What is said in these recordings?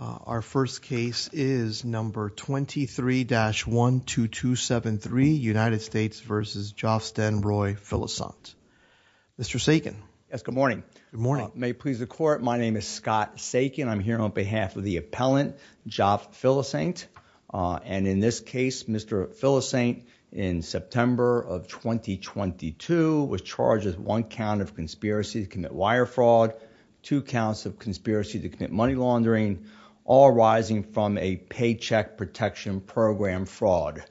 Our first case is number 23-12273 United States v. Joff Stenroy Philossaint. Mr. Sakin. Yes, good morning. Good morning. May it please the court, my name is Scott Sakin. I'm here on behalf of the appellant, Joff Philossaint, and in this case Mr. Philossaint in September of 2022 was charged with one count of conspiracy to commit wire fraud, two counts of conspiracy to commit money laundering, all arising from a paycheck protection program fraud.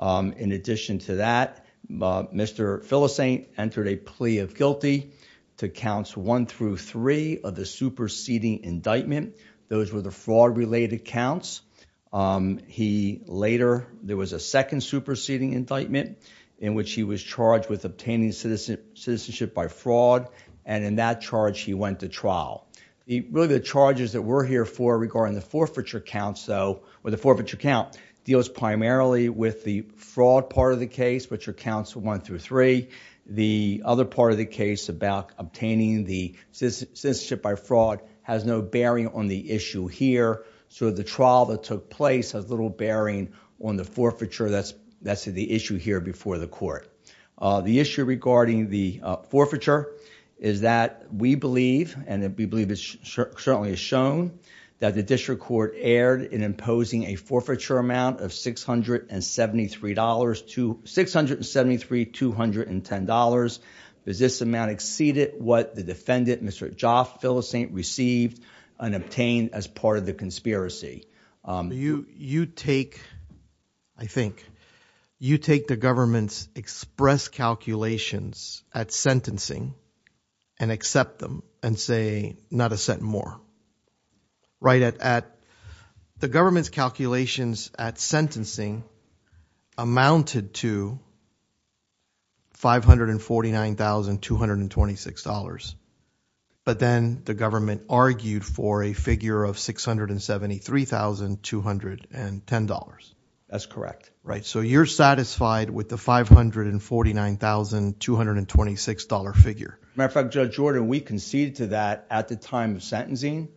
In addition to that, Mr. Philossaint entered a plea of guilty to counts one through three of the superseding indictment. Those were the fraud-related counts. He later, there was a second superseding indictment in which he was charged with obtaining citizenship by fraud, and in that charge he went to trial. Really the charges that we're here for regarding the forfeiture counts though, or the forfeiture count, deals primarily with the fraud part of the case, which are counts one through three. The other part of the case about obtaining the citizenship by fraud has no bearing on the issue here, so the trial that took place has little bearing on the forfeiture that's the issue here before the court. The issue regarding the forfeiture is that we believe, and we believe it certainly is shown, that the district court erred in imposing a forfeiture amount of six hundred and seventy three dollars to six hundred and seventy three two hundred and ten dollars. Does this amount exceeded what the defendant, Mr. Joff Philossaint, received and obtained as part of the conspiracy? You take, I think, you take the government's express calculations at sentencing and accept them and say not a cent more, right? The government's calculations at sentencing amounted to five hundred and forty nine thousand two hundred and twenty six dollars, but then the government argued for a figure of six hundred and seventy three thousand two hundred and ten dollars. That's correct. Right, so you're satisfied with the five hundred and forty nine thousand two hundred and twenty six dollar figure. As a matter of fact, Judge Jordan, we conceded to that at the time of sentencing.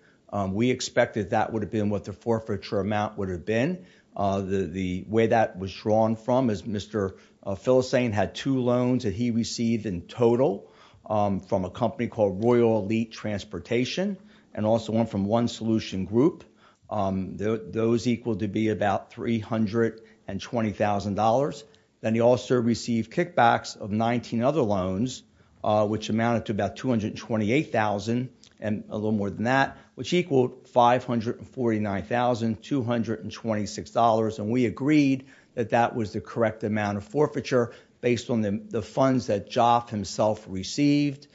We expected that would have been what the forfeiture amount would have been. The way that was drawn from is Mr. Philossaint had two loans that he received in total from a company called Royal Elite Transportation and also one from One Solution Group. Those equal to be about three hundred and twenty thousand dollars. Then he also received kickbacks of 19 other loans, which amounted to about two hundred and twenty eight thousand and a little more than that, which equaled five hundred and forty nine thousand two hundred and twenty six dollars. We agreed that that was the correct amount of forfeiture based on the funds that Joff himself received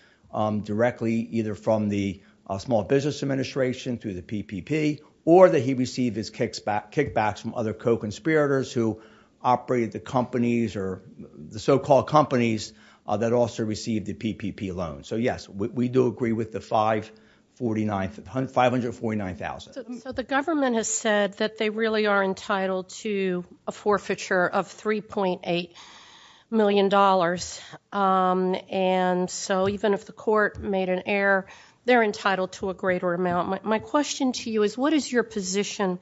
directly either from the Small Business Administration through the PPP or that he received his kickbacks from other co-conspirators who operated the companies or the so-called companies that also received the PPP loan. So yes, we do agree with the five hundred and forty nine thousand. So the government has said that they really are entitled to a forfeiture of three point eight million dollars and so even if the court made an error, they're entitled to a greater amount. My question to you is what is your position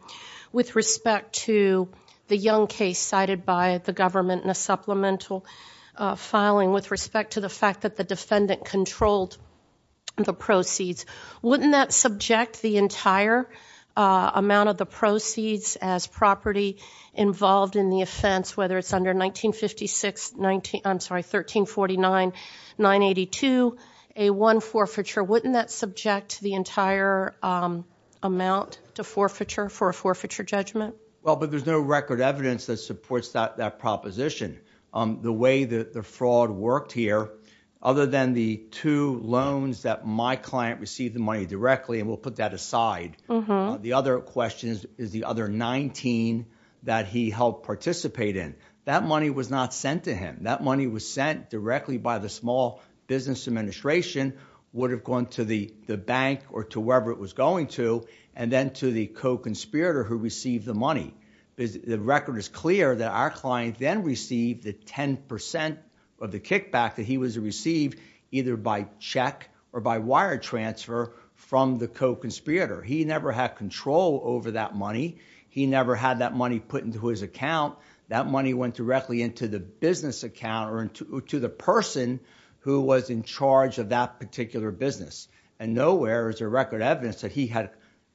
with respect to the Young case cited by the government in a supplemental filing with respect to the fact that the defendant controlled the proceeds? Wouldn't that subject the entire amount of the proceeds as property involved in the offense, whether it's under nineteen fifty six nineteen I'm sorry thirteen forty nine nine eighty two, a one forfeiture, wouldn't that subject the entire amount to forfeiture for a forfeiture judgment? Well but there's no record evidence that supports that that proposition. The way that the fraud worked here, other than the two loans that my client received the money directly and we'll put that aside, the other question is the other nineteen that he helped participate in. That money was not sent to him. That money was sent directly by the small business administration would have gone to the the bank or to wherever it was going to and then to the co-conspirator who received the money. The record is clear that our client then received the ten percent of the kickback that he was received either by check or by wire transfer from the co-conspirator. He never had control over that money. He never had that money put into his account. That money went directly into the business account or to the person who was in charge of that particular business and nowhere is a record evidence that he had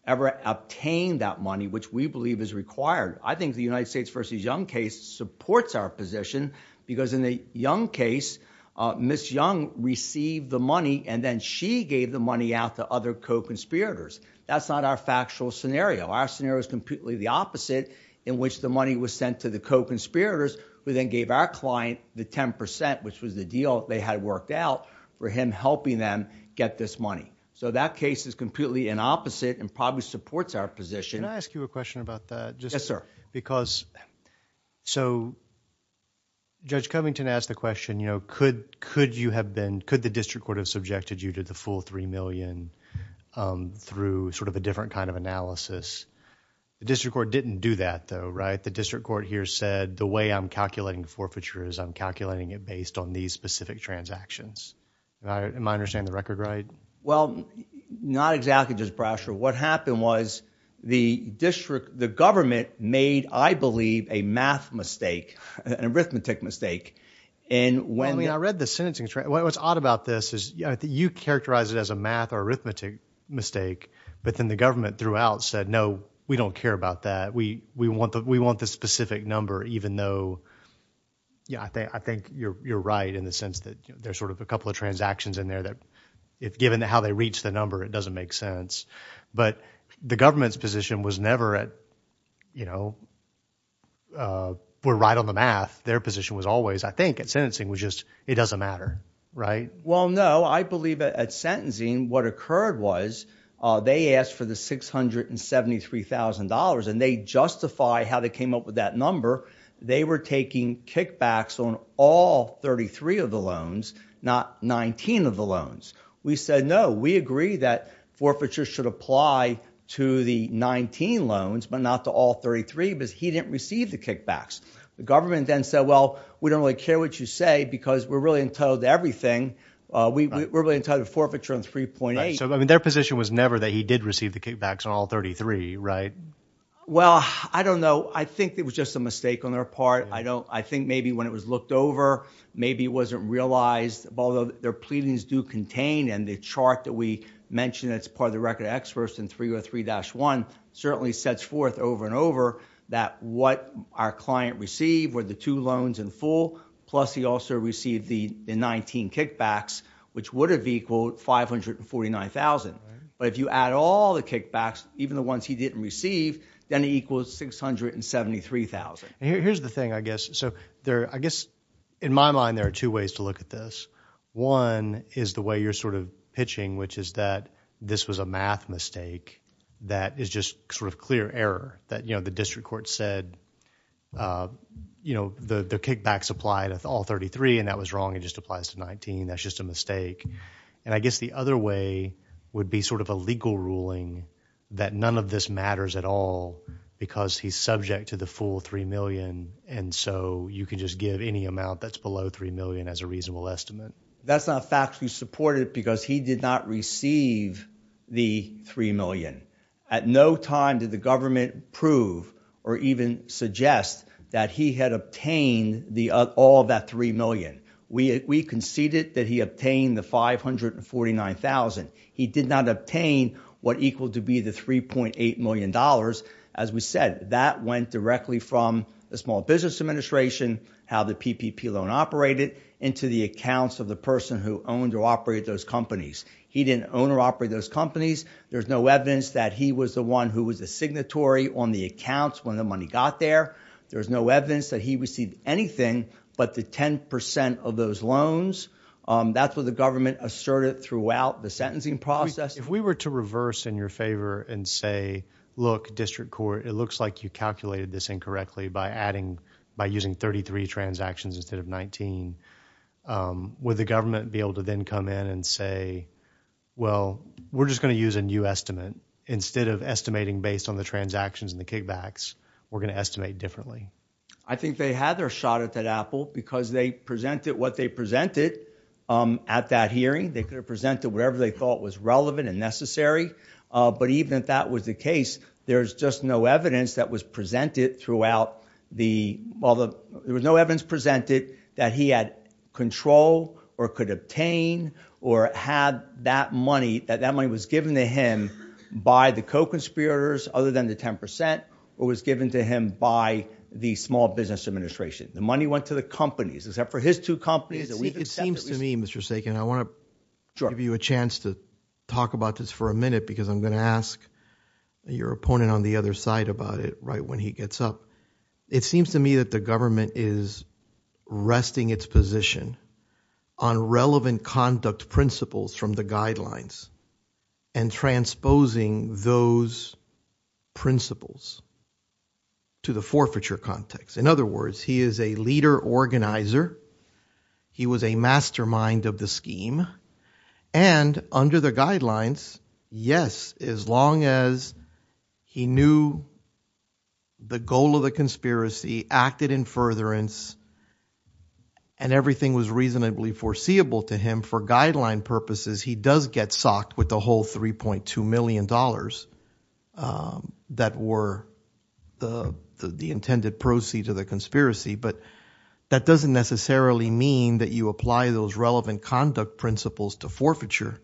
ever obtained that money which we believe is required. I think the United States versus Young case supports our position because in the Young case, Miss Young received the money and then she gave the money out to other co-conspirators. That's not our factual scenario. Our scenario is completely the opposite in which the money was sent to the co-conspirators who then gave our client the ten percent which was the deal they had worked out for him helping them get this money. That case is completely in opposite and probably supports our position. Can I ask you a question about that? Yes, sir. Judge Covington asked the question, could the district court have subjected you to the full three million through sort of a different kind of analysis? The district court didn't do that though, right? The district court here said the way I'm calculating forfeitures, I'm calculating it based on these specific transactions. Am I understanding the record right? Well, not exactly, Judge Brasher. What happened was the district, the government made, I believe, a math mistake, an arithmetic mistake. I mean, I read the sentencing. What's odd about this is you characterize it as a math or arithmetic mistake but then the government throughout said, no, we don't care about that. We want the specific number even though, yeah, I think you're right in the sense that there's sort of a couple of transactions in there that, given how they reach the number, it doesn't make sense. But the government's position was never at, you know, we're right on the math. Their position was always, I think, at sentencing was just, it doesn't matter, right? Well, no, I believe at sentencing what occurred was they asked for the $673,000 and they justify how they came up with that number. They were taking kickbacks on all 33 of the loans, not 19 of the loans. We said, no, we agree that forfeiture should apply to the 19 loans but not to all 33 because he didn't receive the kickbacks. The government then said, well, we don't really care what you say because we're really entitled to everything. We're really entitled to forfeiture on 3.8. So, I mean, their position was never that he did receive the kickbacks on all 33, right? Well, I don't know. I think it was just a mistake on their part. I don't, I think maybe when it was looked over, maybe it wasn't realized, although their pleadings do contain and the chart that we mentioned that's part of the record of experts in 303-1 certainly sets forth over and over that what our client received were the two loans in full plus he also received the 19 kickbacks which would have equaled 549,000. But if you add all the kickbacks, even the ones he didn't receive, then it equals 673,000. Here's the thing, I guess, so there, I guess, in my mind there are two ways to look at this. One is the way you're sort of pitching, which is that this was a math mistake that is just sort of clear error that, you know, the district court said, you know, the kickbacks apply to all 33 and that was wrong. It just applies to 19. That's just a mistake. And I guess the other way would be sort of a legal ruling that none of this matters at all because he's subject to the full 3 million and so you can just give any amount that's below 3 million as a reasonable estimate. That's not factually supported because he did not receive the 3 million. At no time did the government prove or even suggest that he had obtained all that 3 million. We conceded that he obtained the 549,000. He did not obtain what equaled to be the 3.8 million dollars. As we said, that went directly from the Small Business Administration, how the PPP loan operated into the accounts of the person who owned or operated those companies. He didn't own or operate those companies. There's no evidence that he was the one who was the signatory on the accounts when the money got there. There's no evidence that he received anything but the 10% of those loans. That's what the government asserted throughout the sentencing process. If we were to reverse in your favor and say, look, district court, it looks like you calculated this incorrectly by adding, by using 33 transactions instead of 19, would the government be able to then come in and say, well, we're just going to use a new estimate instead of estimating based on the transactions and the kickbacks. We're going to estimate differently. I think they had their shot at that apple because they presented what they presented at that hearing. They could have presented whatever they thought was relevant and necessary. Even if that was the case, there's just no evidence that was presented throughout the, there was no evidence presented that he had control or could obtain or had that money, that that money was given to him by the co-conspirators other than the 10% or was given to him by the Small Business Administration. The money went to the companies except for his two companies. It seems to me, Mr. Sagan, I want to give you a chance to talk about this for a minute because I'm going to ask your opponent on the other side about it right when he gets up. It seems to me that the government is resting its position on relevant conduct principles from the guidelines and transposing those principles to the forfeiture context. In other words, he is a leader organizer. He was a mastermind of the scheme and under the guidelines, yes, as long as he knew the goal of the conspiracy, acted in furtherance, and everything was reasonably foreseeable to him for guideline purposes, he does get socked with the whole $3.2 million that were the intended proceeds of the conspiracy, but that doesn't necessarily mean that you apply those relevant conduct principles to forfeiture,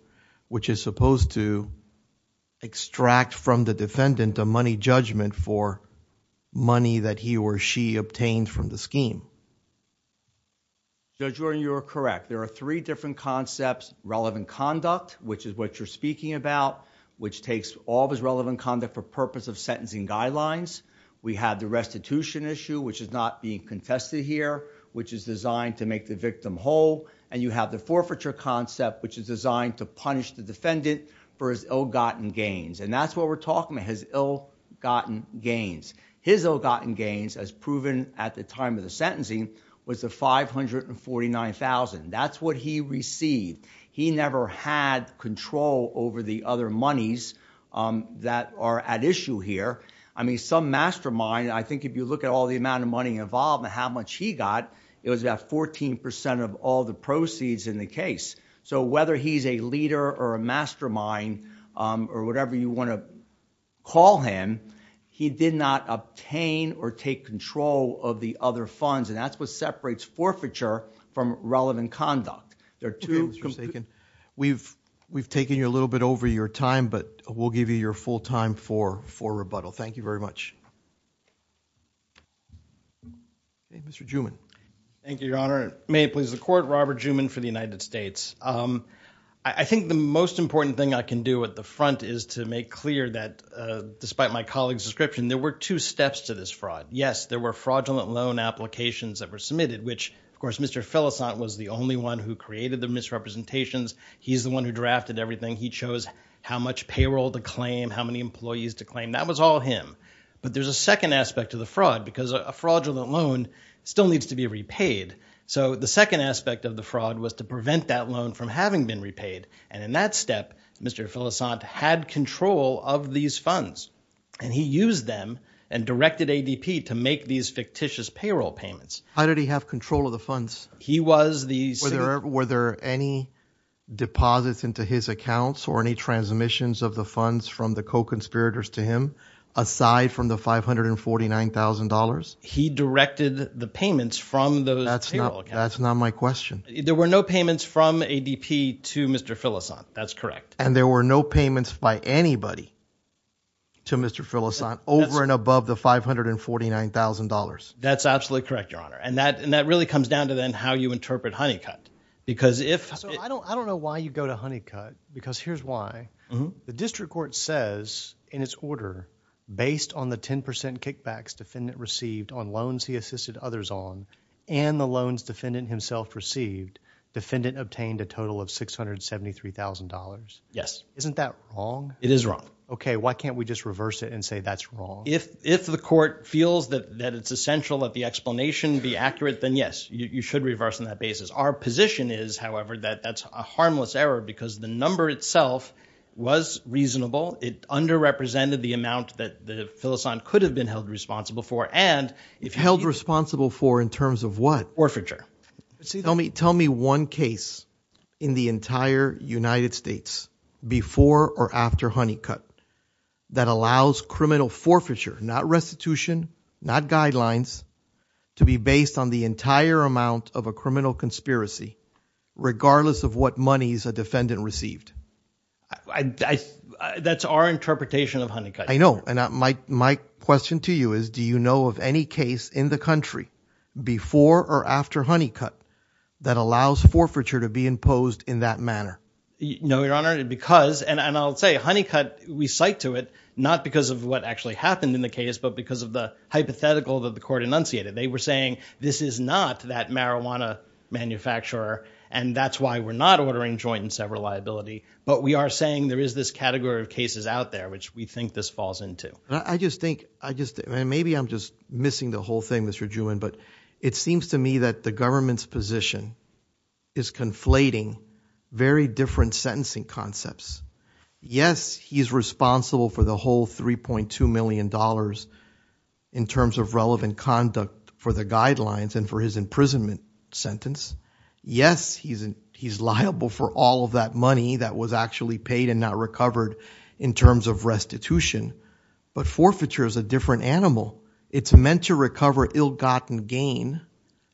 which is supposed to extract from the defendant a money judgment for money that he or she obtained from the scheme. Judge Warren, you are correct. There are three different concepts, relevant conduct, which is what you're speaking about, which takes all those relevant conduct for purpose of sentencing guidelines. We have the restitution issue, which is not being contested here, which is designed to make the victim whole, and you have the forfeiture concept, which is designed to punish the defendant for his ill-gotten gains. That's what we're talking about, his ill-gotten gains. His ill-gotten gains, as proven at the time of the sentencing, was the $549,000. That's what he received. He never had control over the other monies that are at issue here. Some mastermind, I think if you look at all the amount of money involved and how much he got, it was about 14% of all the proceeds in the case. Whether he's a leader or a mastermind or whatever you want to call him, he did not obtain or take control of the other funds, and that's what separates forfeiture from relevant conduct. We've taken you a little bit over your time, but we'll give you your full time for rebuttal. Thank you very much. Mr. Juman. Thank you, Your Honor. May it please the Court, Robert Juman for the United States. I think the most important thing I can do at the front is to make clear that despite my colleague's description, there were two steps to this fraud. Yes, there were fraudulent loan applications that were submitted, which of course Mr. Felicant was the only one who created the misrepresentations. He's the one who drafted everything. He chose how much payroll to claim, how many employees to claim. That was all him. But there's a second aspect to the fraud, because a fraudulent loan still needs to be repaid. So the second aspect of the fraud was to prevent that loan from having been repaid, and in that step, Mr. Felicant had control of these funds, and he used them and directed ADP to make these fictitious payroll payments. How did he have control of the funds? He was the... Were there any deposits into his accounts or any transmissions of the funds from the co-conspirators to him, aside from the $549,000? He directed the payments from those payroll accounts. That's not my question. There were no payments from ADP to Mr. Felicant. That's correct. And there were no payments by anybody to Mr. Felicant over and above the $549,000. That's absolutely correct, Your Honor, and that really comes down to then how you interpret Honeycutt, because if... So I don't know why you go to Honeycutt, because here's why. The district court says in its order, based on the 10% kickbacks defendant received on loans he assisted others on, and the loans defendant himself received, defendant obtained a total of $673,000. Yes. Isn't that wrong? It is wrong. Okay, why can't we just reverse it and say that's wrong? If the court feels that it's essential that the explanation be accurate, then yes, you should reverse on that basis. Our position is, however, that that's a harmless error, because the number itself was reasonable. It underrepresented the amount that Felicant could have been held responsible for, and... Held responsible for in terms of what? Forfeiture. Tell me one case in the entire United States, before or after Honeycutt, that allows criminal forfeiture, not restitution, not guidelines, to be based on the entire amount of a criminal conspiracy, regardless of what monies a defendant received. That's our interpretation of Honeycutt. I know, and my question to you is, do you know of any case in the country, before or after Honeycutt, that allows forfeiture to be imposed in that manner? No, Your Honor, because, and I'll say, Honeycutt, we cite to it, not because of what actually happened in the case, but because of the hypothetical that the court enunciated. They were saying, this is not that marijuana manufacturer, and that's why we're not ordering joint and sever liability, but we are saying there is this category of cases out there, which we think this falls into. I just think, I just, maybe I'm just missing the whole thing, Mr. Juman, but it seems to me that the government's position is conflating very different sentencing concepts. Yes, he's responsible for the whole 3.2 million dollars in terms of relevant conduct for the guidelines and for his imprisonment sentence. Yes, he's liable for all of that money that was actually paid and not recovered in terms of restitution, but forfeiture is a different animal. It's meant to recover ill-gotten gain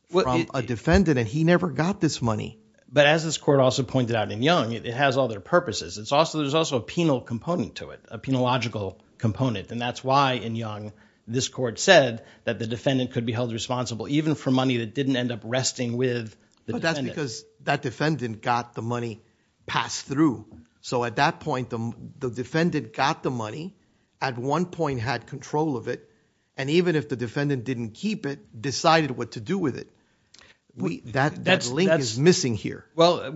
from a defendant, and he never got this money. But as this court also pointed out in Young, it has all their purposes. It's also, there's also a penal component to it, a penological component, and that's why, in Young, this court said that the defendant could be held responsible, even for money that didn't end up resting with the defendant. That's because that defendant got the money passed through. So at that point, the defendant got the money, at one point had control of it, and even if the defendant didn't keep it, decided what to do with it. That link is missing here. Well,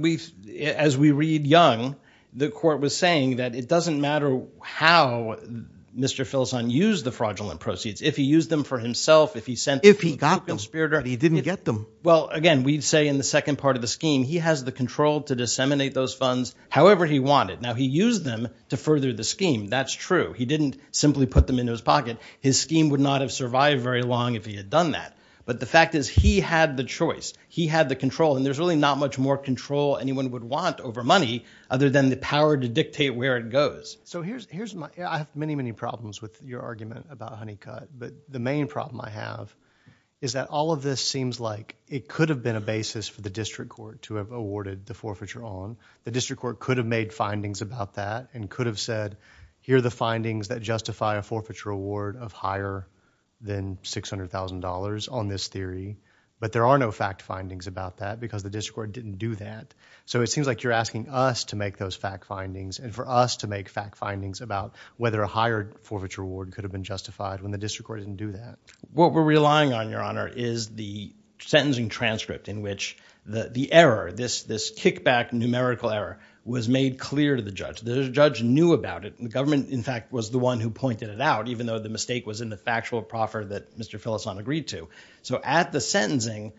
as we read Young, the court was saying that it doesn't matter how Mr. Filson used the fraudulent proceeds. If he used them for himself, if he sent them to a conspirator. If he got them, he didn't get them. Well, again, we'd say in the second part of the scheme, he has the control to disseminate those funds however he wanted. Now, he used them to further the scheme. That's true. He didn't simply put them into his pocket. His scheme would not have survived very long if he had done that. But the fact is, he had the choice. He had the control, and there's really not much more control anyone would want over money, other than the power to dictate where it goes. So here's, here's my, I have many, many problems with your argument about Honeycut, but the main problem I have is that all of this seems like it could have been a basis for the district court to have awarded the forfeiture on. The district court could have made findings about that, and could have said, here are the findings that justify a forfeiture award of higher than $600,000 on this theory. But there are no fact findings about that, because the district court didn't do that. So it seems like you're asking us to make those fact findings, and for us to make fact findings about whether a higher forfeiture award could have been justified, when the district court didn't do that. What we're relying on, your honor, is the sentencing transcript, in which the, the error, this, this kickback numerical error, was made clear to the judge. The judge knew about it. The government, in fact, was the one who pointed it out, even though the mistake was in the factual proffer that Mr. Filassone agreed to. So at the sentencing,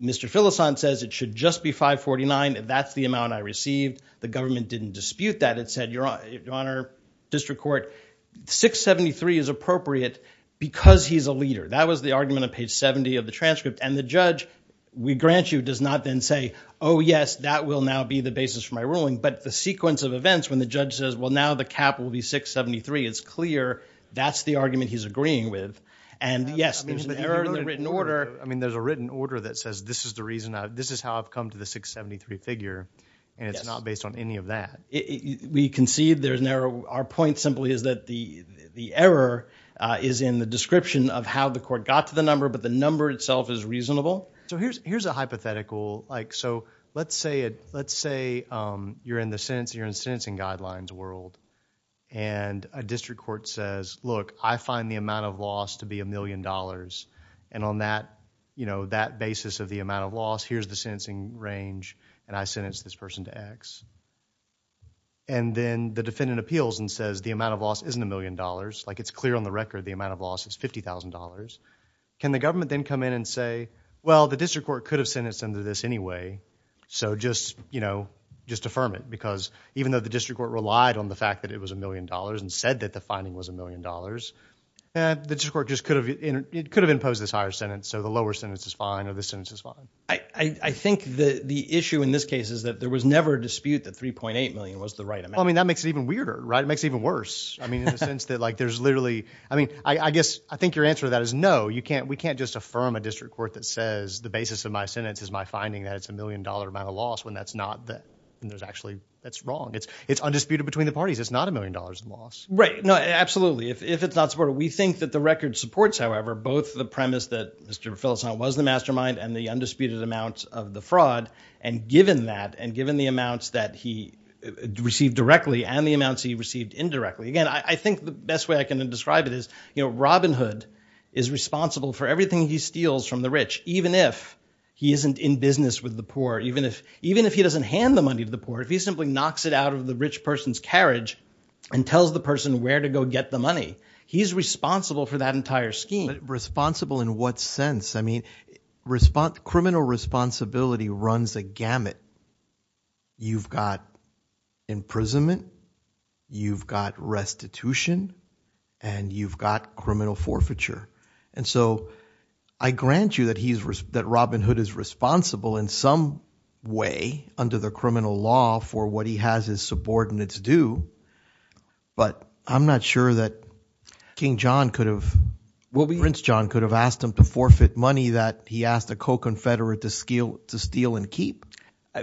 Mr. Filassone says it should just be $549. That's the amount I received. The government didn't dispute that. It said, your honor, district court, $673 is appropriate, because he's a leader. That was the argument on page 70 of the transcript. And the judge, we grant you, does not then say, oh yes, that will now be the basis for my ruling. But the sequence of events, when the judge says, well now the cap will be $673, it's clear that's the argument he's agreeing with. And yes, there's an error in the written order. I mean, there's a written order that says, this is the reason, this is how I've come to the $673 figure, and it's not based on any of that. We concede there's an error. Our point simply is that the, the error is in the description of how the court got to the number, but the number itself is reasonable. So here's, here's a hypothetical, like, so let's say it, let's say you're in the sentence, you're in sentencing guidelines world, and a district court says, look, I find the amount of loss to be a million dollars, and on that, you know, that basis of the amount of loss, here's the sentencing range, and I sentence this person to X. And then the defendant appeals and says the amount of loss isn't a million dollars, like, it's clear on the record the amount of loss is $50,000. Can the government then come in and say, well, the district court could have sentenced them to this anyway, so just, you know, just affirm it, because even though the district court relied on the fact that it was a million dollars and said that the finding was a million dollars, the district court just could have, it could have imposed this higher sentence, so the lower sentence is fine, or this sentence is fine. I, I think the, the issue in this case is that there was never a dispute that 3.8 million was the right amount. Well, I mean, that makes it even weirder, right? It makes it even worse. I mean, in the sense that, like, there's literally, I mean, I, I guess, I think your answer to that is no, you can't, we can't just affirm a district court that says the basis of my sentence is my finding that it's a million dollar amount of loss, when that's not the, and there's actually, that's wrong. It's, it's undisputed between the parties. It's not a million dollars in loss. Right, no, absolutely. If, if it's not supported, we think that the record supports, however, both the premise that Mr. Filicent was the mastermind and the undisputed amount of the fraud, and given that, and given the amounts that he received directly and the amounts he received indirectly. Again, I, I think the best way I can describe it is, you know, Robin Hood is responsible for everything he steals from the rich, even if he isn't in business with the poor, even if, even if he doesn't hand the money to the poor, if he simply knocks it out of the rich person's carriage and tells the person where to go get the money, he's responsible for that entire scheme. Responsible in what sense? I mean, response, criminal responsibility runs a gamut. You've got imprisonment, you've got restitution, and you've got criminal forfeiture, and so I grant you that he's, that Robin Hood is responsible in some way under the criminal law for what he has his subordinates do, but I'm not sure that King John could have, Prince John could have asked him to forfeit money that he asked a co-confederate to steal and keep.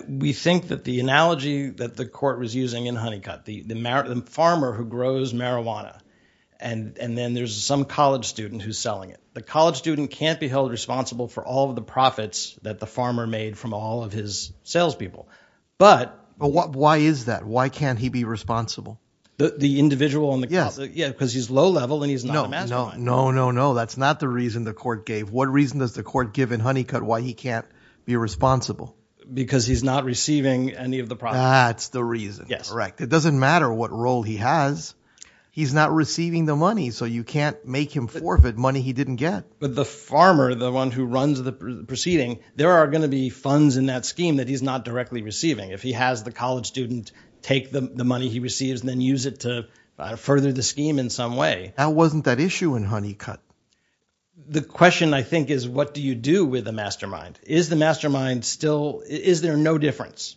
We think that the analogy that the court was using in Honeycutt, the farmer who grows marijuana, and, and then there's some college student who's selling it. The college student can't be held responsible for all of the profits that the farmer made from all of his salespeople, but... But why is that? Why can't he be responsible? The individual on the... Yes. Yeah, because he's low-level and he's No, no, no, no, no, that's not the reason the court gave. What reason does the court give in Honeycutt why he can't be responsible? Because he's not receiving any of the profits. That's the reason. Yes. Correct. It doesn't matter what role he has. He's not receiving the money, so you can't make him forfeit money he didn't get. But the farmer, the one who runs the proceeding, there are gonna be funds in that scheme that he's not directly receiving. If he has the college student take the money he receives and then use it to further the scheme in some way. Now, wasn't that issue in Honeycutt? The question, I think, is what do you do with a mastermind? Is the mastermind still... Is there no difference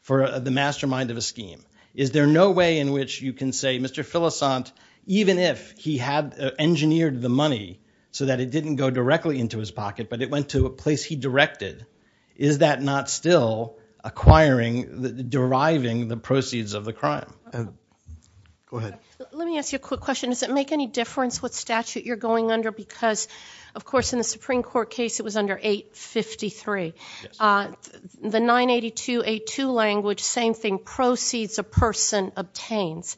for the mastermind of a scheme? Is there no way in which you can say, Mr. Filassant, even if he had engineered the money so that it didn't go directly into his pocket, but it went to a place he directed, is that not still acquiring, deriving the proceeds of the crime? Go ahead. Let me ask you a quick question. Does it make any difference what statute you're going under? Because, of course, in the Supreme Court case it was under 853. The 982A2 language, same thing, proceeds a person obtains.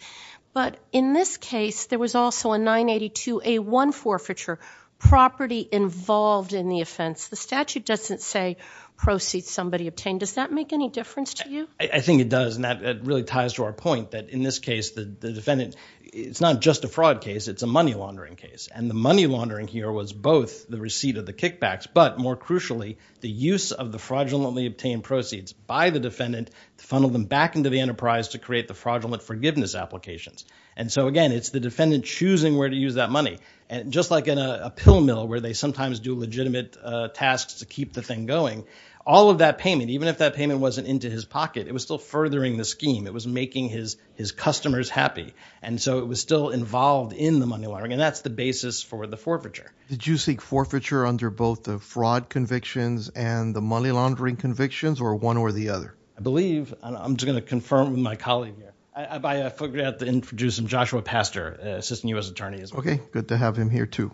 But in this case there was also a 982A1 forfeiture, property involved in the offense. The statute doesn't say proceeds somebody obtained. Does that make any difference to you? I think it does, and that really ties to our point, that in this case the defendant... It's not just a fraud case, it's a money laundering case. And the money laundering here was both the receipt of the kickbacks, but more crucially, the use of the fraudulently obtained proceeds by the defendant to funnel them back into the enterprise to create the fraudulent forgiveness applications. And so, again, it's the defendant choosing where to use that money. And just like in a pill mill where they sometimes do legitimate tasks to keep the thing going, all of that payment, even if that payment wasn't into his pocket, it was still furthering the scheme. It was making his his customers happy. And so it was still involved in the money laundering, and that's the basis for the forfeiture. Did you seek forfeiture under both the fraud convictions and the money laundering convictions, or one or the other? I believe, and I'm just gonna confirm with my colleague here, I figured I'd have to introduce him, Joshua Pastor, Assistant U.S. Attorney. Okay, good to have him here too.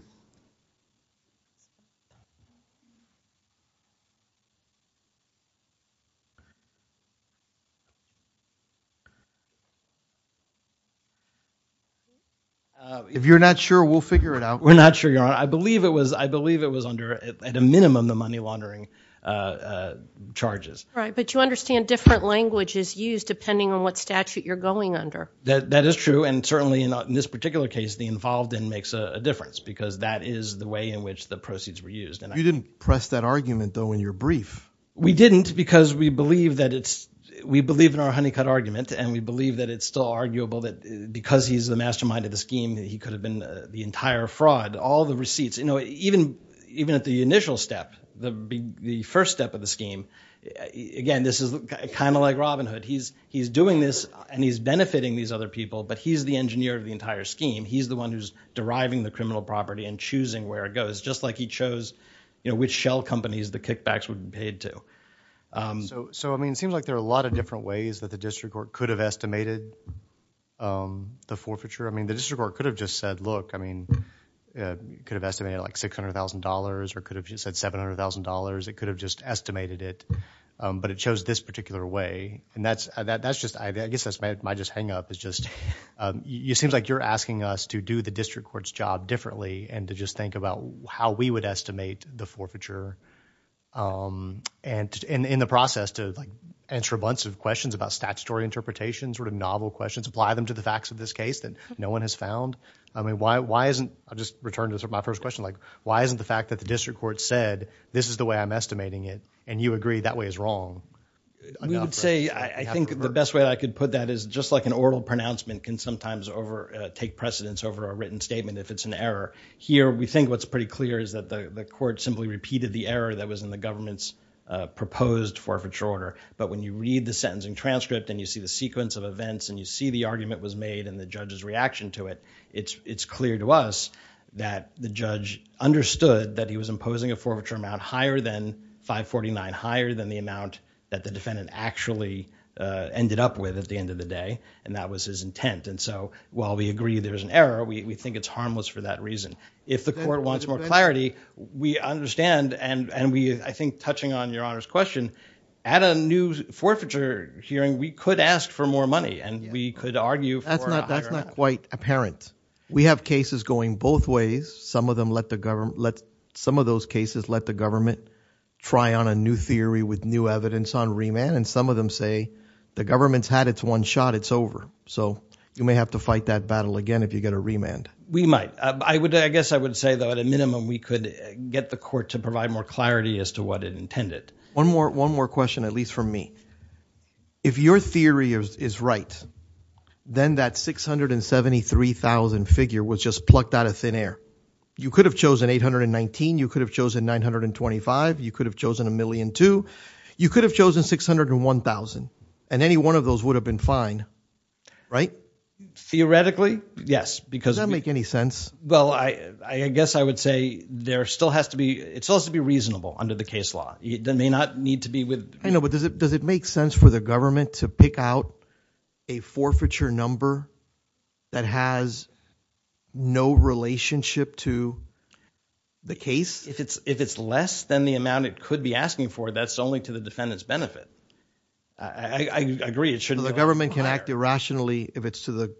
If you're not sure, we'll figure it out. We're not sure, Your Honor. I believe it was, I believe it was under, at a minimum, the money laundering charges. Right, but you understand different language is used depending on what statute you're going under. That is true, and certainly in this particular case, the involved in makes a difference, because that is the way in which the proceeds were used. And We didn't, because we believe that it's, we believe in our honeycut argument, and we believe that it's still arguable that because he's the mastermind of the scheme, that he could have been the entire fraud. All the receipts, you know, even at the initial step, the first step of the scheme, again, this is kind of like Robin Hood. He's doing this, and he's benefiting these other people, but he's the engineer of the entire scheme. He's the one who's deriving the criminal property and choosing where it goes, just like he chose, you know, which shell companies the kickbacks would be paid to. So I mean, it seems like there are a lot of different ways that the District Court could have estimated the forfeiture. I mean, the District Court could have just said, look, I mean, could have estimated like $600,000, or could have just said $700,000. It could have just estimated it, but it chose this particular way. And that's, that's just, I guess that's my, my just hang-up is just, it seems like you're asking us to do the District Court's job differently, and to just think about how we would estimate the forfeiture, and in the process to like answer a bunch of questions about statutory interpretations, sort of novel questions, apply them to the facts of this case that no one has found. I mean, why, why isn't, I'll just return to my first question, like, why isn't the fact that the District Court said, this is the way I'm estimating it, and you agree that way is wrong. We would say, I think the best way I could put that is just like an oral pronouncement can sometimes over, take precedence over a written statement if it's an error. Here, we think what's pretty clear is that the, the court simply repeated the error that was in the government's proposed forfeiture order, but when you read the sentencing transcript, and you see the sequence of events, and you see the argument was made, and the judge's reaction to it, it's, it's clear to us that the judge understood that he was imposing a forfeiture amount higher than 549, higher than the amount that the defendant actually ended up with at the end of the day, and that was his intent. And so, while we agree there's an error, we think it's harmless for that reason. If the court wants more clarity, we understand, and, and we, I think, touching on Your Honor's question, at a new forfeiture hearing, we could ask for more money, and we could argue for a higher amount. That's not, that's not quite apparent. We have cases going both ways. Some of them let the government, let, some of those cases let the government try on a new theory with new evidence on remand, and some of them say, the government's had its one shot, it's over. So, you may have to fight that battle again if you get a remand. We might. I would, I guess I would say, though, at a minimum, we could get the court to provide more clarity as to what it intended. One more, one more question, at least for me. If your theory is, is right, then that 673,000 figure was just plucked out of thin air. You could have chosen 819, you could have chosen 925, you could have chosen a million two, you could have chosen 601,000, and any one of those would have been fine, right? Theoretically, yes, because. Does that make any sense? Well, I, I guess I would say there still has to be, it still has to be reasonable under the case law. It may not need to be with. I know, but does it, does it make sense for the government to pick out a forfeiture number that has no relationship to the case? If it's, if it's to the defendant's benefit. I, I, I agree, it shouldn't. The government can act irrationally if it's to the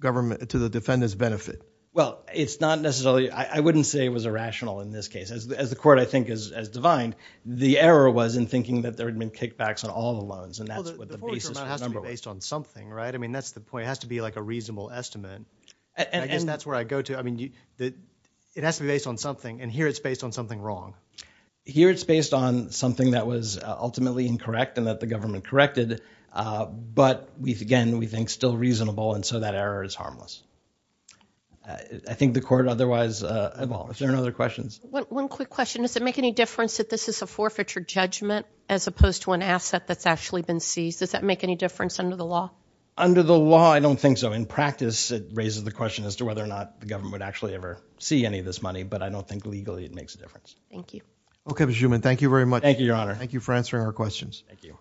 government, to the defendant's benefit. Well, it's not necessarily, I, I wouldn't say it was irrational in this case. As, as the court, I think, is, is divine. The error was in thinking that there had been kickbacks on all the loans, and that's what the basis for the number was. Well, the, the forfeiture amount has to be based on something, right? I mean, that's the point. It has to be like a reasonable estimate. And, and. I guess that's where I go to. I mean, the, it has to be based on something, and here it's based on something wrong. Here it's based on something that was ultimately incorrect and that the government corrected. But we've, again, we think still reasonable, and so that error is harmless. I, I think the court otherwise, well, is there any other questions? One, one quick question. Does it make any difference that this is a forfeiture judgment as opposed to an asset that's actually been seized? Does that make any difference under the law? Under the law, I don't think so. In practice, it raises the question as to whether or not the government would actually ever see any of this money, but I don't think legally it makes a difference. Thank you. Okay, Mr. Zuman, thank you very much. Thank you, Your Honor. Thank you for answering our questions. Thank you.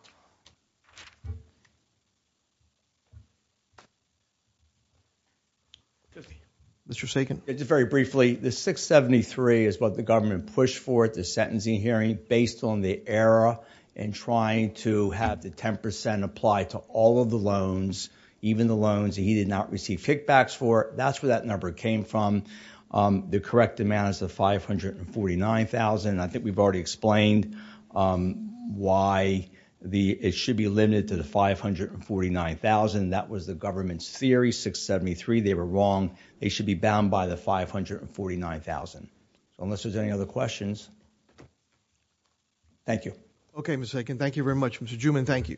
Mr. Sagan. Just very briefly, the 673 is what the government pushed for at the sentencing hearing based on the error in trying to have the 10% apply to all of the loans, even the loans that he did not receive kickbacks for. That's where that number came from. The correct amount is the $549,000. I think we've already explained, um, why the, it should be limited to the $549,000. That was the government's theory, 673. They were wrong. They should be bound by the $549,000. Unless there's any other questions. Thank you. Okay, Mr. Sagan. Thank you very much. Mr. Zuman, thank you.